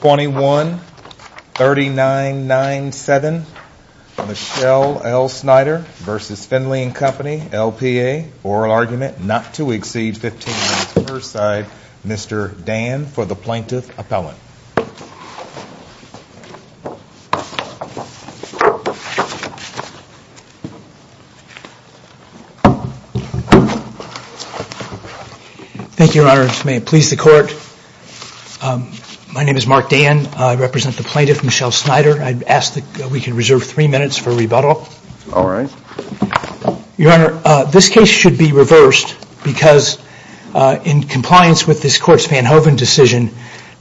21 3997 Michelle L Snyder versus Finley and Company LPA oral argument not to exceed 15 minutes per side Mr. Dan for the plaintiff appellant. Thank You My name is Mark Dan. I represent the plaintiff Michelle Snyder. I ask that we can reserve three minutes for rebuttal. Your Honor, this case should be reversed because in compliance with this court's Van Hoven decision,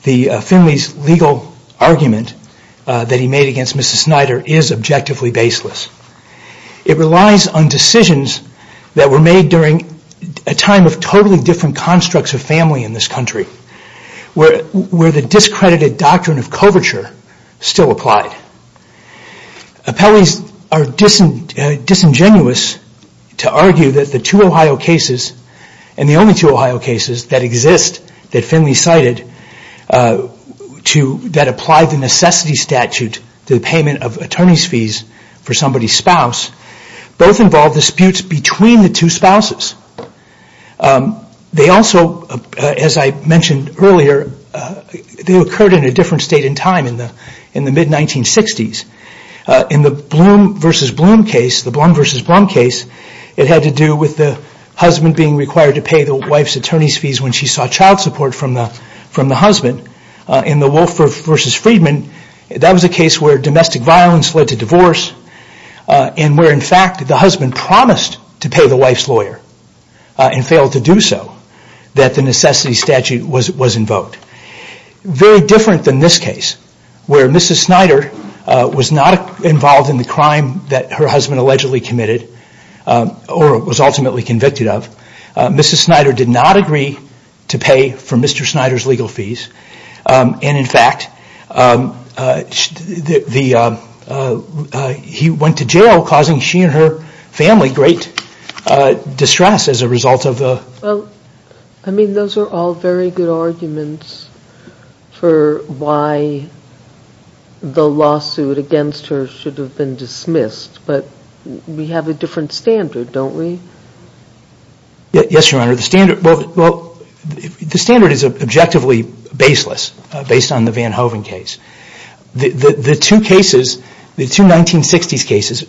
Finley's legal argument that he made against Mrs. Snyder is objectively baseless. It relies on decisions that were made during a time of totally different in this country where the discredited doctrine of coverture still applied. Appellees are disingenuous to argue that the two Ohio cases and the only two Ohio cases that exist that Finley cited that applied the necessity statute to the payment of attorney's fees for somebody's spouses. They also, as I mentioned earlier, occurred in a different state and time in the mid-1960s. In the Blum versus Blum case, it had to do with the husband being required to pay the wife's attorney's fees when she sought child support from the husband. In the Wolfer versus Friedman, that was a case where domestic violence led to divorce and in fact the husband promised to pay the wife's lawyer and failed to do so. The necessity statute was invoked. Very different than this case where Mrs. Snyder was not involved in the crime that her husband allegedly committed or was ultimately convicted of. Mrs. Snyder did not agree to pay for Mr. Snyder's legal fees and in fact, he went to jail causing she and her family great distress as a result of the... Well, I mean those are all very good arguments for why the lawsuit against her should have been dismissed, but we have a different standard, don't we? Yes, Your Honor. The standard is objectively baseless based on the Van Hoven case. The two cases, the two 1960s cases,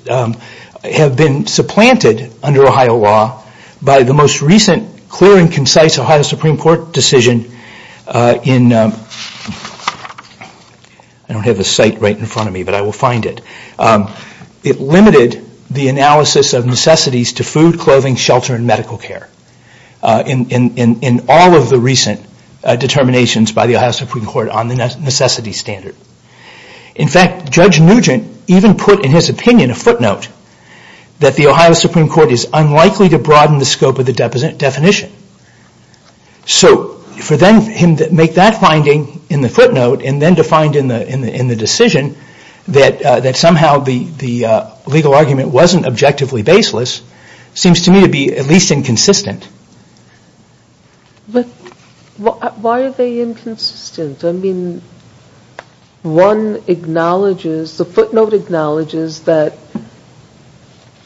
have been supplanted under Ohio law by the most recent clear and concise Ohio Supreme Court decision in... I don't have the site right in front care in all of the recent determinations by the Ohio Supreme Court on the necessity standard. In fact, Judge Nugent even put in his opinion a footnote that the Ohio Supreme Court is unlikely to broaden the scope of the definition. So for him to make that finding in the footnote and then to find in the decision that somehow the legal argument wasn't objectively baseless seems to me to be at least inconsistent. But why are they inconsistent? I mean, one acknowledges, the footnote acknowledges that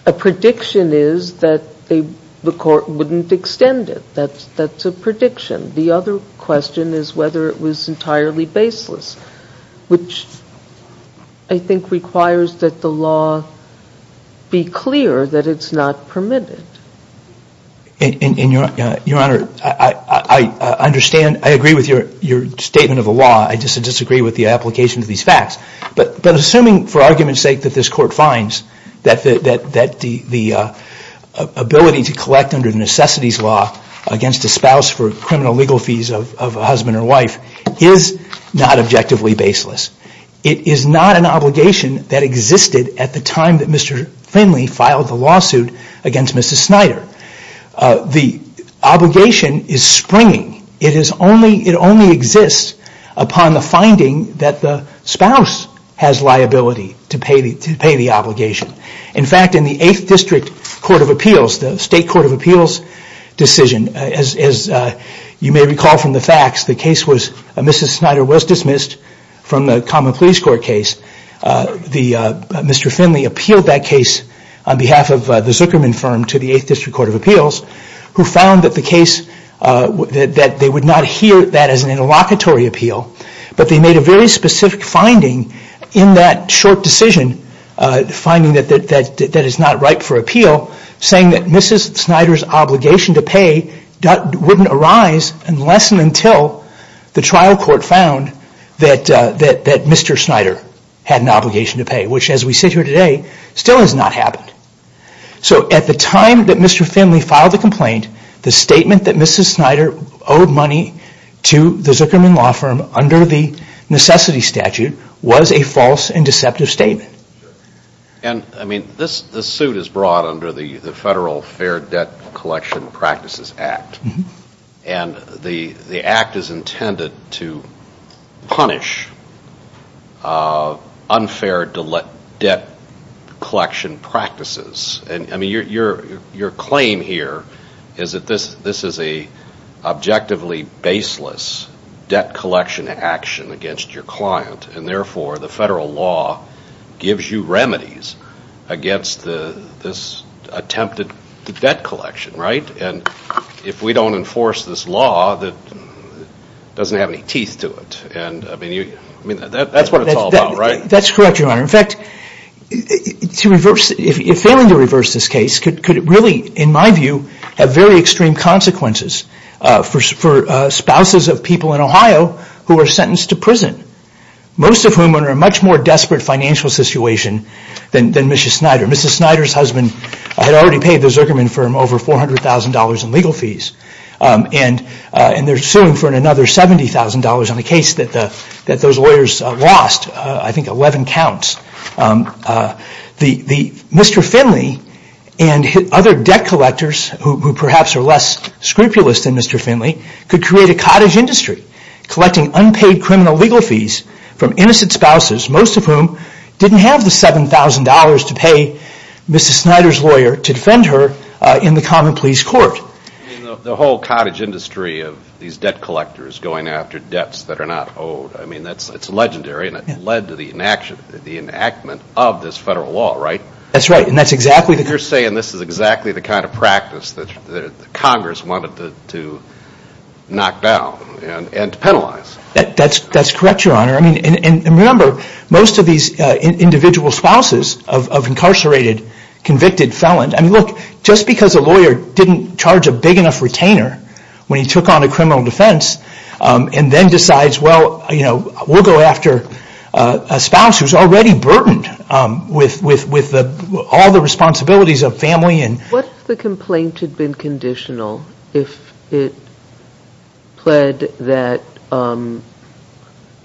a prediction is that the court wouldn't extend it. That's a prediction. The other question is whether it was entirely baseless which I think requires that the law be clear that it's not permitted. And Your Honor, I understand, I agree with your statement of the law. I just disagree with the application of these facts. But assuming for argument's sake that this court finds that the ability to collect under the necessities law against a spouse for criminal legal fees of a husband or wife is not objectively baseless. It is not an obligation that existed at the time that Mr. Finley filed the lawsuit against Mrs. Snyder. The obligation is springing. It is only, it only exists upon the finding that the spouse has liability to pay the obligation. In fact, in the 8th District Court of Appeals, the State Court of Appeals decision, as you may recall from the facts, the case was Mrs. Snyder was dismissed from the Common Police Court case. Mr. Finley appealed that case on behalf of the Zuckerman firm to the 8th District Court of Appeals who found that the case, that they would not hear that as an interlocutory appeal. But they made a very specific finding in that short decision, the finding that it's not ripe for appeal, saying that Mrs. Snyder's obligation to pay wouldn't arise unless and until the trial court found that Mr. Snyder had an obligation to pay, which as we sit here today still has not happened. So at the time that Mr. Finley filed the complaint, the statement that Mrs. Snyder owed money to the Zuckerman law firm under the necessity statute was a false and deceptive statement. And, I mean, this suit is brought under the Federal Fair Debt Collection Practices Act. And the act is intended to punish unfair debt collection practices. I mean, your claim here is that this is a objectively baseless debt collection action against your client. And it gives you remedies against this attempted debt collection, right? And if we don't enforce this law, it doesn't have any teeth to it. And, I mean, that's what it's all about, right? That's correct, Your Honor. In fact, to reverse, if failing to reverse this case could really, in my view, have very extreme consequences for spouses of people in Ohio who are sentenced to prison, most of whom are in a much more desperate financial situation than Mrs. Snyder. Mrs. Snyder's husband had already paid the Zuckerman firm over $400,000 in legal fees. And they're suing for another $70,000 on a case that those lawyers lost, I think 11 counts. Mr. Finley and other debt collectors who perhaps are less scrupulous than Mr. Finley could create a cottage industry, collecting unpaid criminal legal fees from innocent spouses, most of whom didn't have the $7,000 to pay Mrs. Snyder's lawyer to defend her in the common pleas court. I mean, the whole cottage industry of these debt collectors going after debts that are not owed, I mean, it's legendary and it led to the enactment of this federal law, right? That's right. And that's exactly the kind of practice that Congress wanted to knock down and penalize. That's correct, Your Honor. And remember, most of these individual spouses of incarcerated, convicted felons, I mean, look, just because a lawyer didn't charge a big enough retainer when he took on a criminal defense and then decides, well, we'll go after a spouse who's already burdened with all the responsibilities of family. What if the complaint had been conditional? If it pled that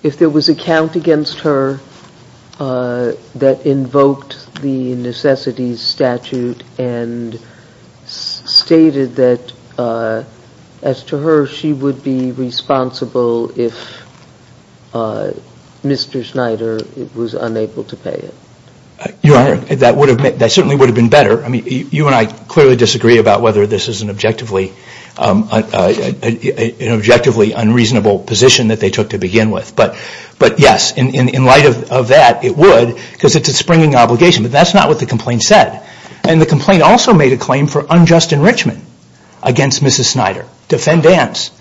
if there was a count against her that invoked the necessities statute and stated that as to her, she would be responsible if Mr. Snyder was unable to pay it? Your Honor, that certainly would have been better. I mean, you and I clearly disagree about whether this is an objectively unreasonable position that they took to begin with. But yes, in light of that, it would because it's a springing obligation. But that's not what the complaint said. And the complaint also made a claim for unjust enrichment against Mrs. Snyder. Defendance.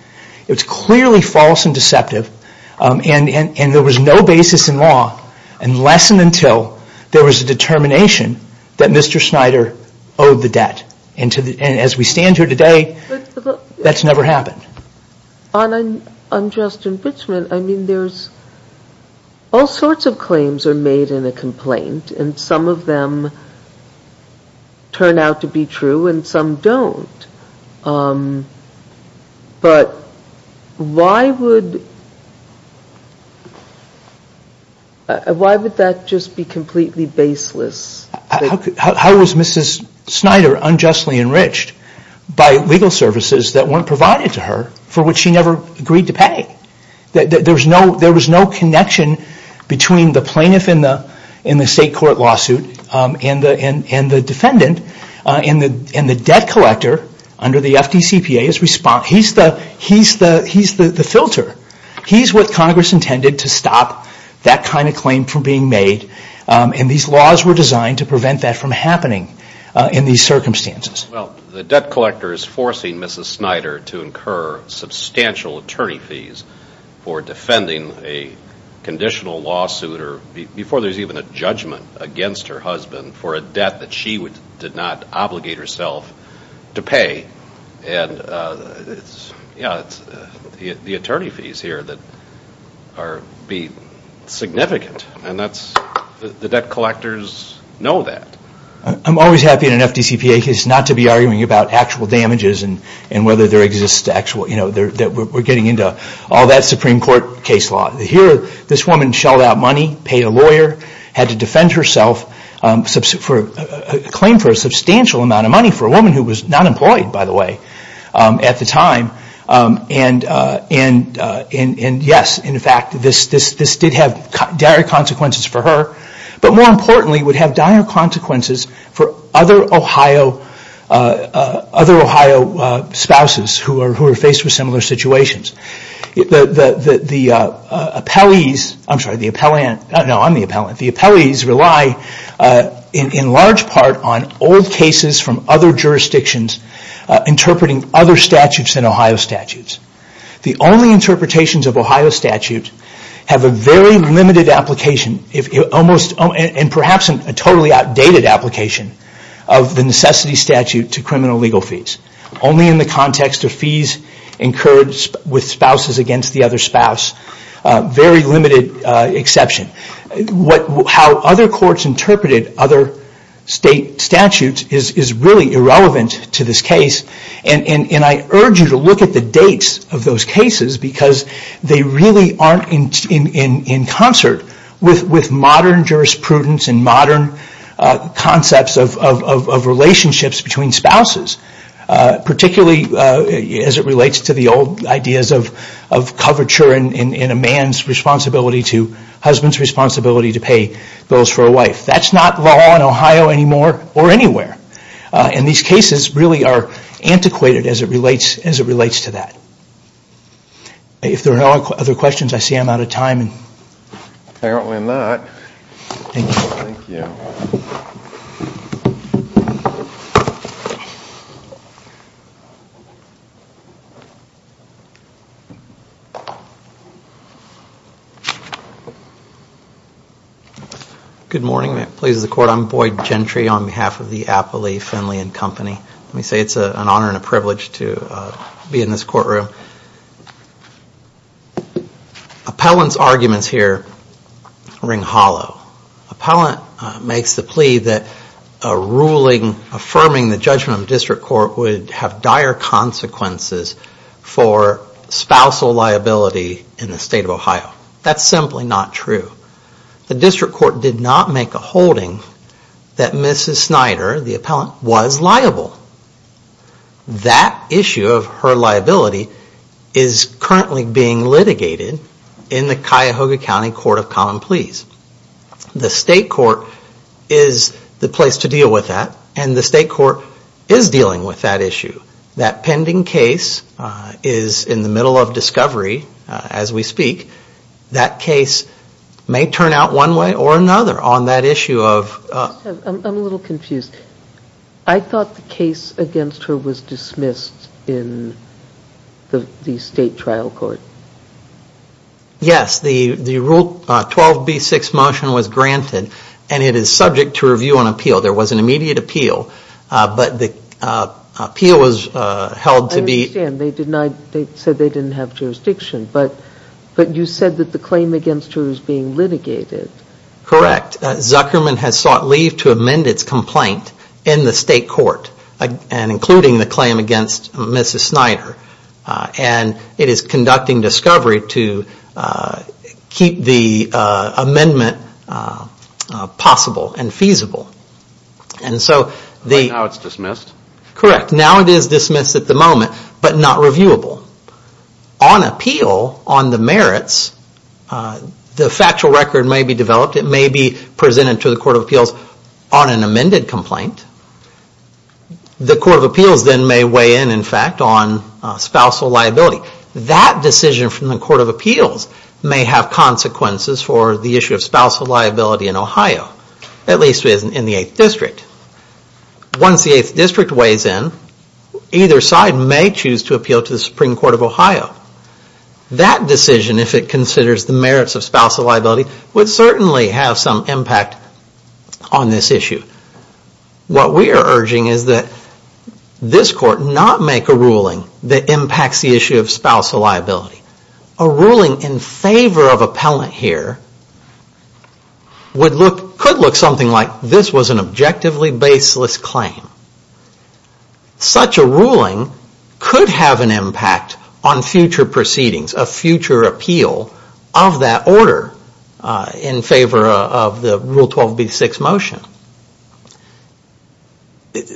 It's clearly false and deceptive. And there was no basis in law unless and until there was a determination that Mr. Snyder owed the debt. And as we stand here today, that's never happened. On unjust enrichment, I mean, there's all sorts of claims are made in a complaint. And some of them turn out to be true and some don't. But why would that just be completely baseless? How was Mrs. Snyder unjustly enriched by legal services that weren't provided to her for which she never agreed to pay? There was no connection between the plaintiff in the state and the debt collector under the FDCPA's response. He's the filter. He's what Congress intended to stop that kind of claim from being made. And these laws were designed to prevent that from happening in these circumstances. Well, the debt collector is forcing Mrs. Snyder to incur substantial attorney fees for defending a conditional lawsuit or before there's even a judgment against her husband for a debt that she did not obligate herself to pay. And it's the attorney fees here that are significant. And the debt collectors know that. I'm always happy in an FDCPA case not to be arguing about actual damages and whether there exists actual, you know, we're getting into all that Supreme Court case law. Here, this had to defend herself for a claim for a substantial amount of money for a woman who was not employed, by the way, at the time. And yes, in fact, this did have dire consequences for her. But more importantly, it would have dire consequences for other Ohio spouses who are faced with legal fees. And these legal fees rely, in large part, on old cases from other jurisdictions interpreting other statutes than Ohio statutes. The only interpretations of Ohio statutes have a very limited application and perhaps a totally outdated application of the necessity statute to criminal legal fees. Only in the context of fees incurred with spouses against the other spouse. Very limited exception. How other courts interpreted other state statutes is really irrelevant to this case. And I urge you to look at the dates of those cases because they really aren't in concert with modern jurisprudence and modern concepts of relationships between spouses. Particularly as it relates to the old ideas of coverture and a man's responsibility to, husband's responsibility to pay bills for a wife. That's not law in Ohio anymore or anywhere. And these cases really are antiquated as it relates to that. If there are no other questions, I see I'm out of time. Boyd Gentry Good morning. Pleased to be here. I'm Boyd Gentry on behalf of the Appley Finley and Company. Let me say it's an honor and a privilege to be in this courtroom. Appellant's arguments here ring hollow. Appellant makes the plea that a ruling affirming that the judgment of the district court would have dire consequences for spousal liability in the state of Ohio. That's simply not true. The district court did not make a holding that Mrs. Snyder, the appellant, was liable. That issue of her liability is currently being litigated in the Cuyahoga County Court of Common Pleas. The state court is the place to deal with that and the state court is dealing with that issue. That pending case is in the middle of discovery as we speak. That case may turn out one way or another on that issue of... Jody Freeman I'm a little confused. I thought the case against her was dismissed in the state trial court. Boyd Gentry Yes, the Rule 12b6 motion was granted and it is subject to review and appeal. There was an immediate appeal, but the appeal was held to be... Jody Freeman I understand. They said they didn't have jurisdiction, but you said that the claim against her is being litigated. Boyd Gentry Correct. Zuckerman has sought leave to amend its complaint in the state court, including the claim against Mrs. Snyder. It is conducting discovery to keep the amendment possible and feasible. Boyd Gentry Now it's dismissed? Boyd Gentry Correct. Now it is dismissed at the moment, but not reviewable. On appeal, on the merits, the factual record may be developed. It may be presented to the Court of Appeals on an amended complaint. The Court of Appeals then may weigh in, in fact, on spousal liability. That decision from the Court of Appeals may have consequences for the issue of spousal liability in Ohio, at least in the 8th District. Once the 8th District weighs in, either side may choose to appeal to the Supreme Court of Ohio. That decision, if it considers the merits of spousal liability, would certainly have some impact on this issue. What we are urging is that this Court not make a ruling that impacts the issue of spousal liability. A ruling in favor of appellant here could look something like this was an objectively baseless claim. Such a ruling could have an impact on future proceedings, a future appeal of that order in favor of the Rule 12b-6 motion.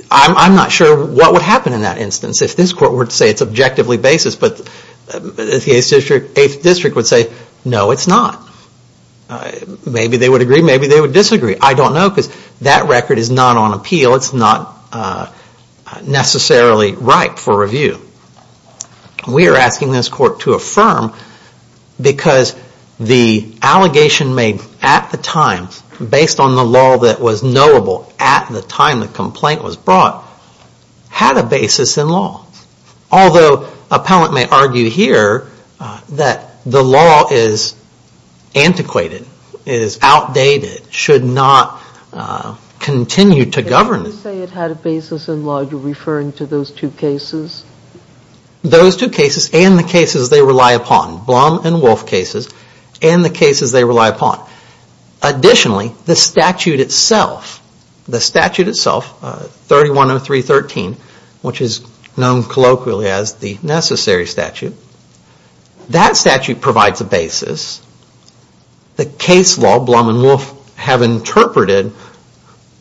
I'm not sure what would happen in that instance. If this Court were to say it's objectively baseless, but the 8th District would say, no, it's not. Maybe they would agree, maybe they would disagree. I don't know because that record is not on appeal. It's not necessarily ripe for review. We are asking this Court to affirm because the allegation made at the time, based on the law that was knowable at the time the complaint was brought, had a basis in law. Although appellant may argue here that the law is antiquated, is outdated, should not continue to govern. If you say it had a basis in law, you are referring to those two cases? Those two cases and the cases they rely upon. Blum and Wolf cases and the cases they rely upon. Additionally, the statute itself, the statute itself, 3103.13, which is known colloquially as the necessary statute, that statute provides a basis. The case law, Blum and Wolf have interpreted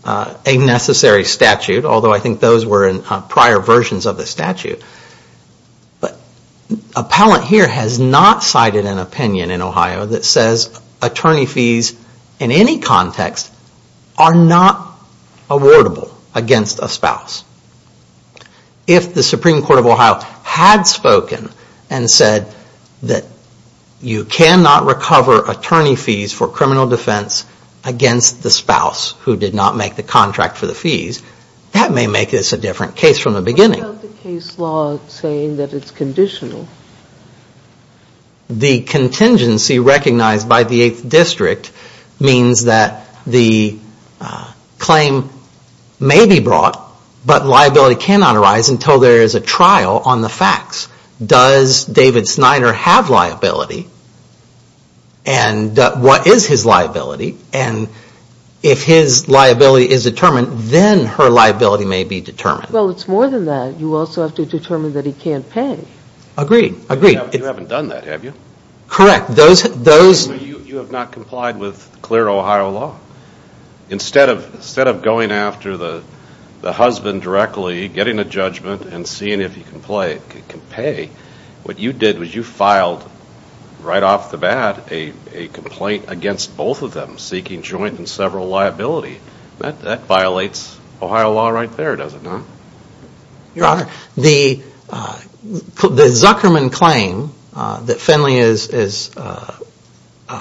a necessary statute, although I think those were prior versions of the statute. But, appellant here has not cited an opinion in Ohio that says attorney fees in any context are not awardable against a spouse. If the Supreme Court of Ohio had spoken and said that you cannot recover attorney fees for criminal defense against the spouse who did not make the contract for the fees, that may make this a different case from the beginning. What about the case law saying that it is conditional? The contingency recognized by the 8th District means that the claim may be brought, but liability cannot arise until there is a trial on the facts. Does David Snyder have liability? And what is his liability? And if his liability is determined, then her liability may be determined. Well, it's more than that. You also have to determine that he can't pay. Agreed. Agreed. You haven't done that, have you? Correct. Those You have not complied with clear Ohio law. Instead of going after the husband directly, getting a judgment, and seeing if he can pay, what you did was you filed right off the bat a complaint against both of them, seeking joint and several liability. That violates Ohio law right there, does it not? Your Honor, the Zuckerman claim that Finley is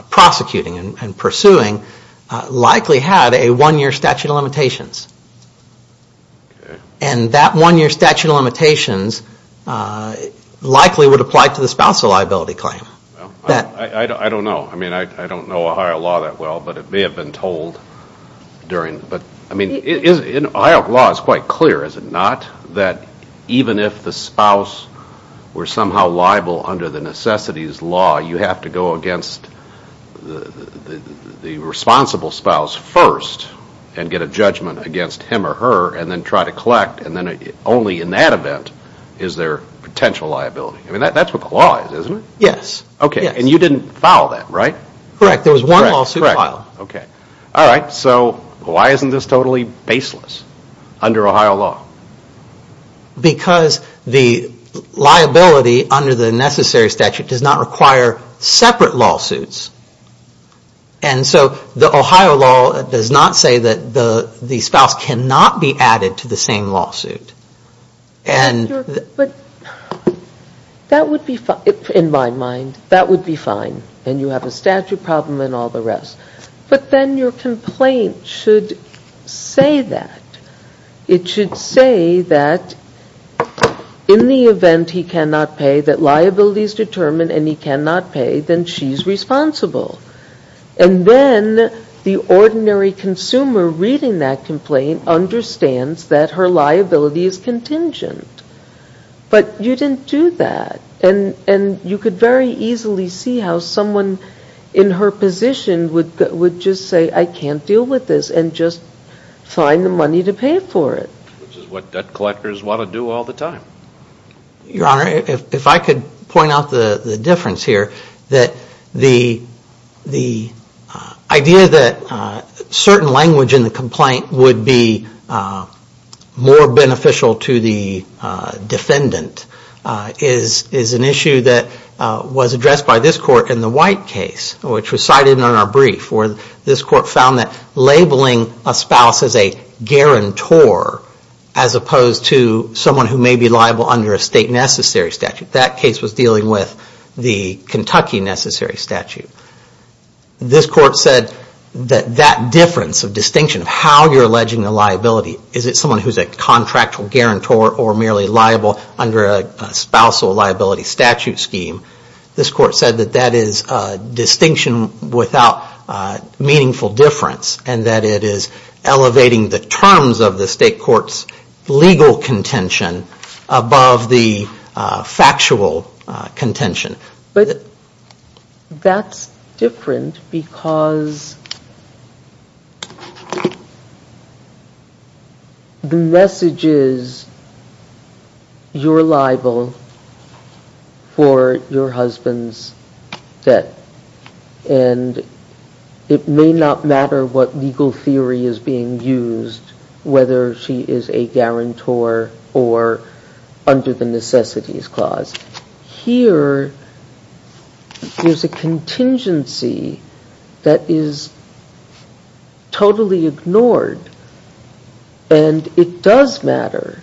prosecuting and pursuing likely had a one year statute of limitations. And that one year statute of limitations likely would apply to the spousal liability claim. I don't know. I mean, I don't know Ohio law that well, but it may have been told during the, but I mean, in Ohio law it's quite clear, is it not, that even if the spouse were somehow liable under the necessities law, you have to go against the responsible spouse first and get a judgment against him or her, and then try to collect, and then only in that event is there potential liability. I mean, that's what the law is, isn't it? Yes. Okay. And you didn't file that, right? Correct. There was one lawsuit filed. Okay. All right. So why isn't this totally baseless under Ohio law? Because the liability under the necessary statute does not require separate lawsuits. And so the Ohio law does not say that the spouse cannot be added to the same lawsuit. But that would be, in my mind, that would be fine. And you have a statute problem and all the rest. But then your complaint should say that. It should say that in the event he cannot pay, that liability is determined and he cannot pay, then she's responsible. And then the ordinary consumer reading that complaint understands that her liability is contingent. But you didn't do that. And you could very easily see how someone in her position would just say, I can't deal with this, and just find the money to pay for it. Which is what debt collectors want to do all the time. Your Honor, if I could point out the difference here, that the idea that certain language in the complaint would be more beneficial to the defendant is an issue that was addressed by this Court in the White case, which was cited in our brief, where this Court found that labeling a spouse as a guarantor, as opposed to someone who may be liable under a state necessary statute, that case was dealing with the Kentucky necessary statute. This Court said that that difference of distinction of how you're alleging a liability, is it someone who's a contractual guarantor or merely liable under a spousal liability statute scheme, this Court said that that is distinction without meaningful difference, and that it is elevating the terms of the state court's legal contention above the factual contention. But that's different because the message is, you're liable for your spouse's liability. You're husband's debt, and it may not matter what legal theory is being used, whether she is a guarantor or under the necessities clause. Here, there's a contingency that is totally ignored, and it does matter,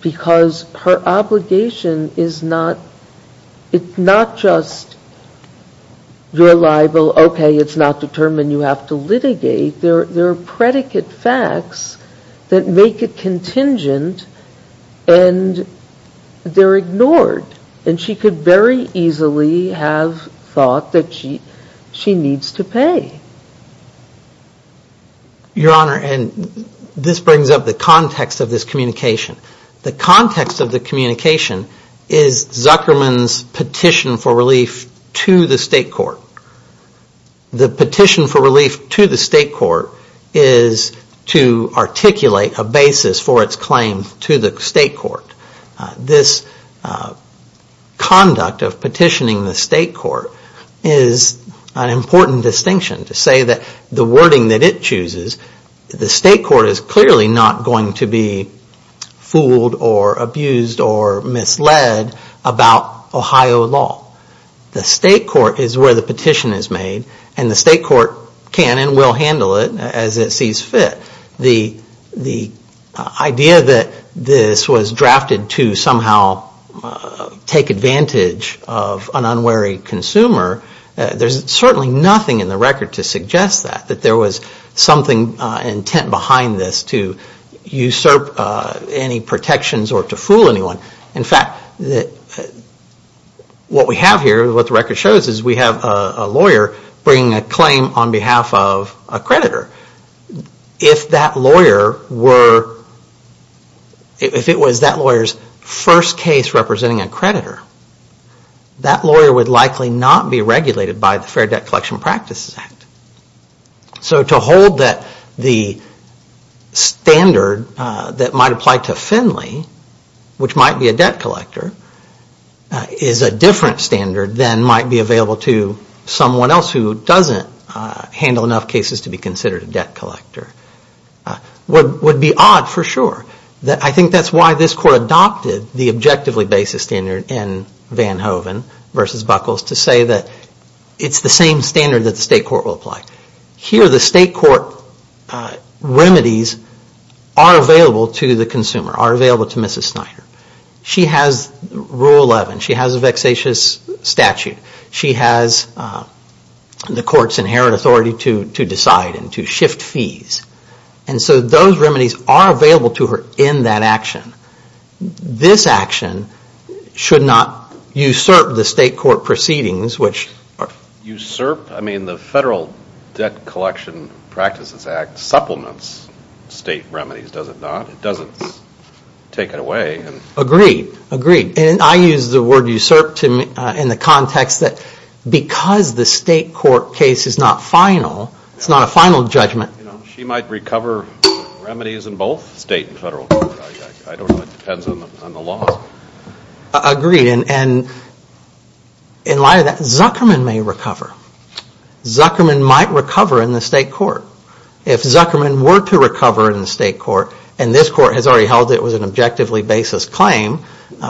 because her obligation is not, it needs to be addressed. Not just, you're liable, okay, it's not determined, you have to litigate. There are predicate facts that make it contingent, and they're ignored. And she could very easily have thought that she needs to pay. Your Honor, and this brings up the context of this communication. The context of the petition for relief to the state court. The petition for relief to the state court is to articulate a basis for its claim to the state court. This conduct of petitioning the state court is an important distinction to say that the wording that it chooses, the state court is clearly not going to be fooled or abused or misled about Ohio law. The state court is where the petition is made, and the state court can and will handle it as it sees fit. The idea that this was drafted to somehow take advantage of an unwary consumer, there's certainly nothing in the record to suggest that, that there was something intent behind this to usurp any protections or to fool anyone. In fact, what we have here, what the record shows is we have a lawyer bringing a claim on behalf of a creditor. If that lawyer were, if it was that lawyer's first case representing a creditor, that lawyer would likely not be regulated by the Fair Debt Collection Practices Act. So to hold that the standard that might apply to Finley, which might apply to Finley and might be a debt collector, is a different standard than might be available to someone else who doesn't handle enough cases to be considered a debt collector, would be odd for sure. I think that's why this court adopted the objectively basis standard in Van Hoven versus Buckles to say that it's the same standard that the state court will apply. Here the state court remedies are available to the consumer, are available to Mrs. Snyder. She has Rule 11, she has a vexatious statute, she has the court's inherent authority to decide and to shift fees. And so those remedies are available to her in that action. This action should not usurp the state court proceedings, which are... The Fair Debt Collection Practices Act supplements state remedies, does it not? It doesn't take it away. Agreed. Agreed. And I use the word usurp in the context that because the state court case is not final, it's not a final judgment. She might recover remedies in both state and federal court. I don't know. It depends on the law. Agreed. And in light of that, Zuckerman may recover. Zuckerman might recover in the state court. If Zuckerman were to recover in the state court, and this court has already held it was an objectively basis claim,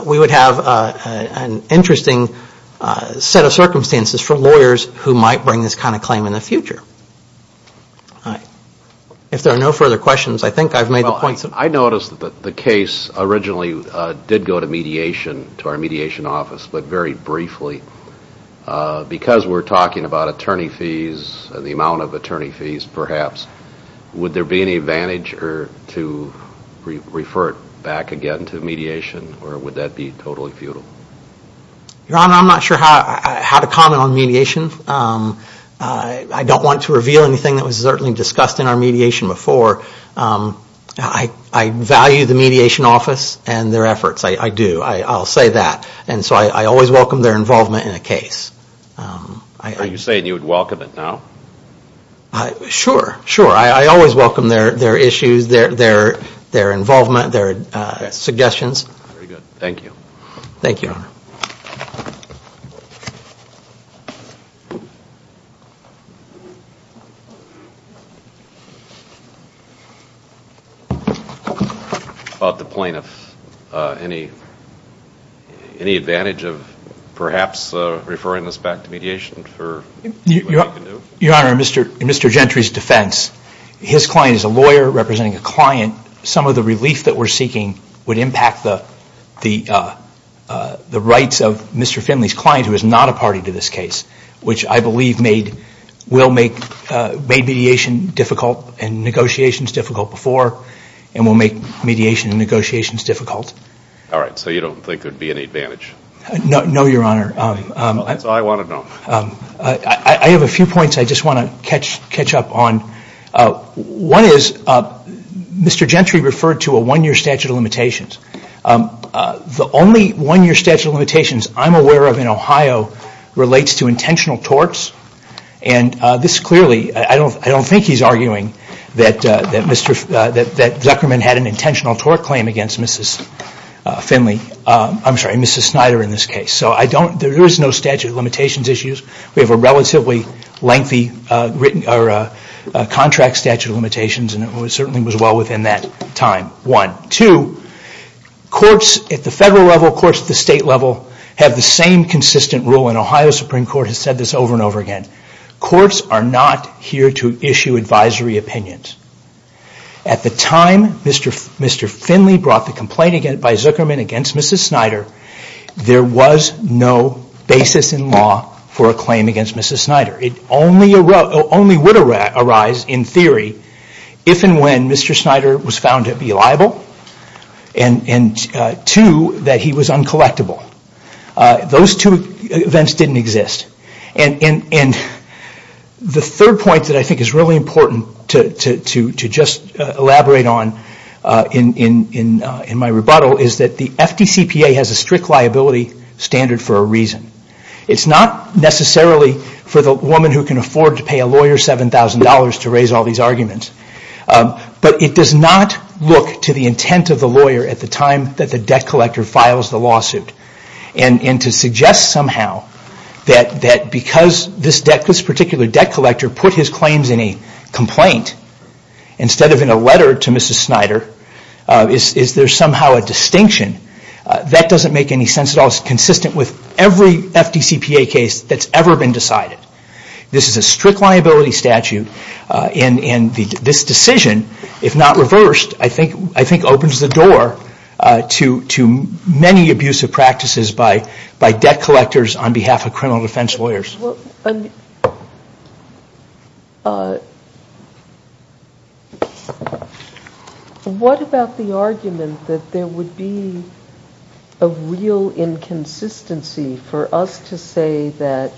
we would have an interesting set of circumstances for lawyers who might bring this kind of claim in the future. If there are no further questions, I think I've made the point. I noticed that the case originally did go to mediation, to our mediation office, but very briefly, because we're talking about attorney fees and the amount of attorney fees perhaps, would there be any advantage to refer it back again to mediation, or would that be totally futile? Your Honor, I'm not sure how to comment on mediation. I don't want to reveal anything that was certainly discussed in our mediation before. I value the mediation office and their efforts. I do. I'll say that. And so I always welcome their involvement in a case. Are you saying you would welcome it now? Sure. I always welcome their issues, their involvement, their suggestions. Very good. Thank you. Thank you, Your Honor. About the plaintiff, any advantage of perhaps referring this back to mediation? Your Honor, in Mr. Gentry's defense, his client is a lawyer representing a client. Some of the relief that we're seeking would impact the rights of Mr. Finley's client, who is not a party to this case, which I believe will make mediation difficult and negotiations difficult before and will make mediation and negotiations difficult. All right. So you don't think there'd be any advantage? No, Your Honor. That's all I want to know. I have a few points I just want to catch up on. One is, Mr. Gentry referred to a one-year statute of limitations. The only one-year statute of limitations I'm aware of in Ohio relates to intentional torts. And this clearly, I don't think he's arguing that Zuckerman had an intentional tort claim against Mrs. Finley, I'm sorry, Mrs. Snyder in this case. So there is no statute of limitations issues. We have a relatively lengthy contract statute of limitations and it certainly was well within that time. One. Two, courts at the federal level, courts at the state level, have the same consistent rule and Ohio Supreme Court has said this over and over again. Courts are not here to issue advisory opinions. At the time Mr. Finley brought the complaint by Zuckerman against Mrs. Snyder, there was no basis in law for a claim against Mrs. Snyder. It only would arise in theory if and when Mr. Snyder was found to be liable and two, that he was uncollectible. Those two events didn't exist. And the third point that I think is really important to just elaborate on is in my rebuttal is that the FDCPA has a strict liability standard for a reason. It's not necessarily for the woman who can afford to pay a lawyer $7,000 to raise all these arguments, but it does not look to the intent of the lawyer at the time that the debt collector files the lawsuit and to suggest somehow that because this particular debt collector put his claims in a complaint instead of in a letter to Mrs. Snyder, is there somehow a distinction that doesn't make any sense at all. It's consistent with every FDCPA case that's ever been decided. This is a strict liability statute and this decision, if not reversed, I think opens the door to many abusive practices by debt collectors on behalf of the FDCPA. What about the argument that there would be a real inconsistency for us to say that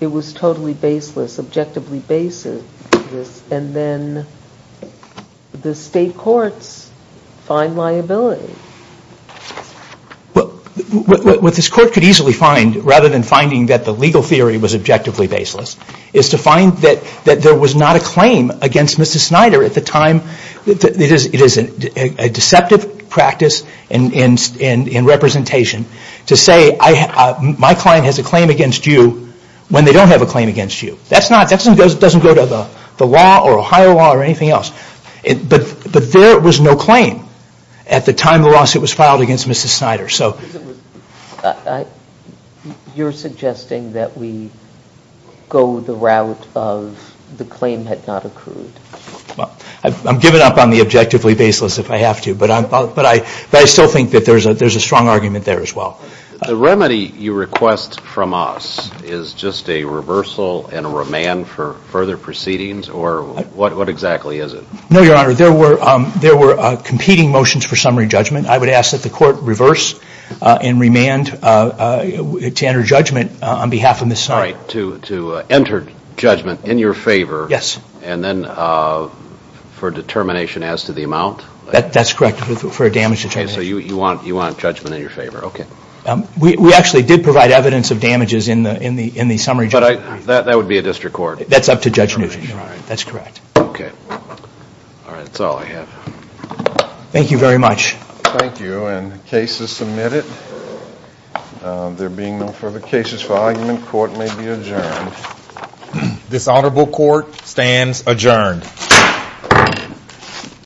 it was totally baseless, objectively baseless, and then the state courts find liability? What this court could easily find, rather than finding that the legal theory was objectively baseless, is to find that there was not a claim against Mrs. Snyder at the time. It is a deceptive practice in representation to say my client has a claim against you when they don't have a claim against you. That doesn't go to the law or a higher law or anything else. But there was no claim at the time the lawsuit was filed against Mrs. Snyder. You're suggesting that we go the route of the claim had not occurred. I'm giving up on the objectively baseless if I have to. But I still think that there's a strong argument there as well. The remedy you request from us is just a reversal and a remand for further proceedings? Or what exactly is it? No, Your Honor. There were competing motions for summary judgment. I would ask that the court revert to that and remand to enter judgment on behalf of Mrs. Snyder. To enter judgment in your favor and then for determination as to the amount? That's correct, for a damage determination. You want judgment in your favor, okay. We actually did provide evidence of damages in the summary judgment. That would be a district court? That's up to Judge Nugent, Your Honor. That's correct. Thank you very much. Thank you. And the case is submitted. There being no further cases for argument, court may be adjourned. This honorable court stands adjourned.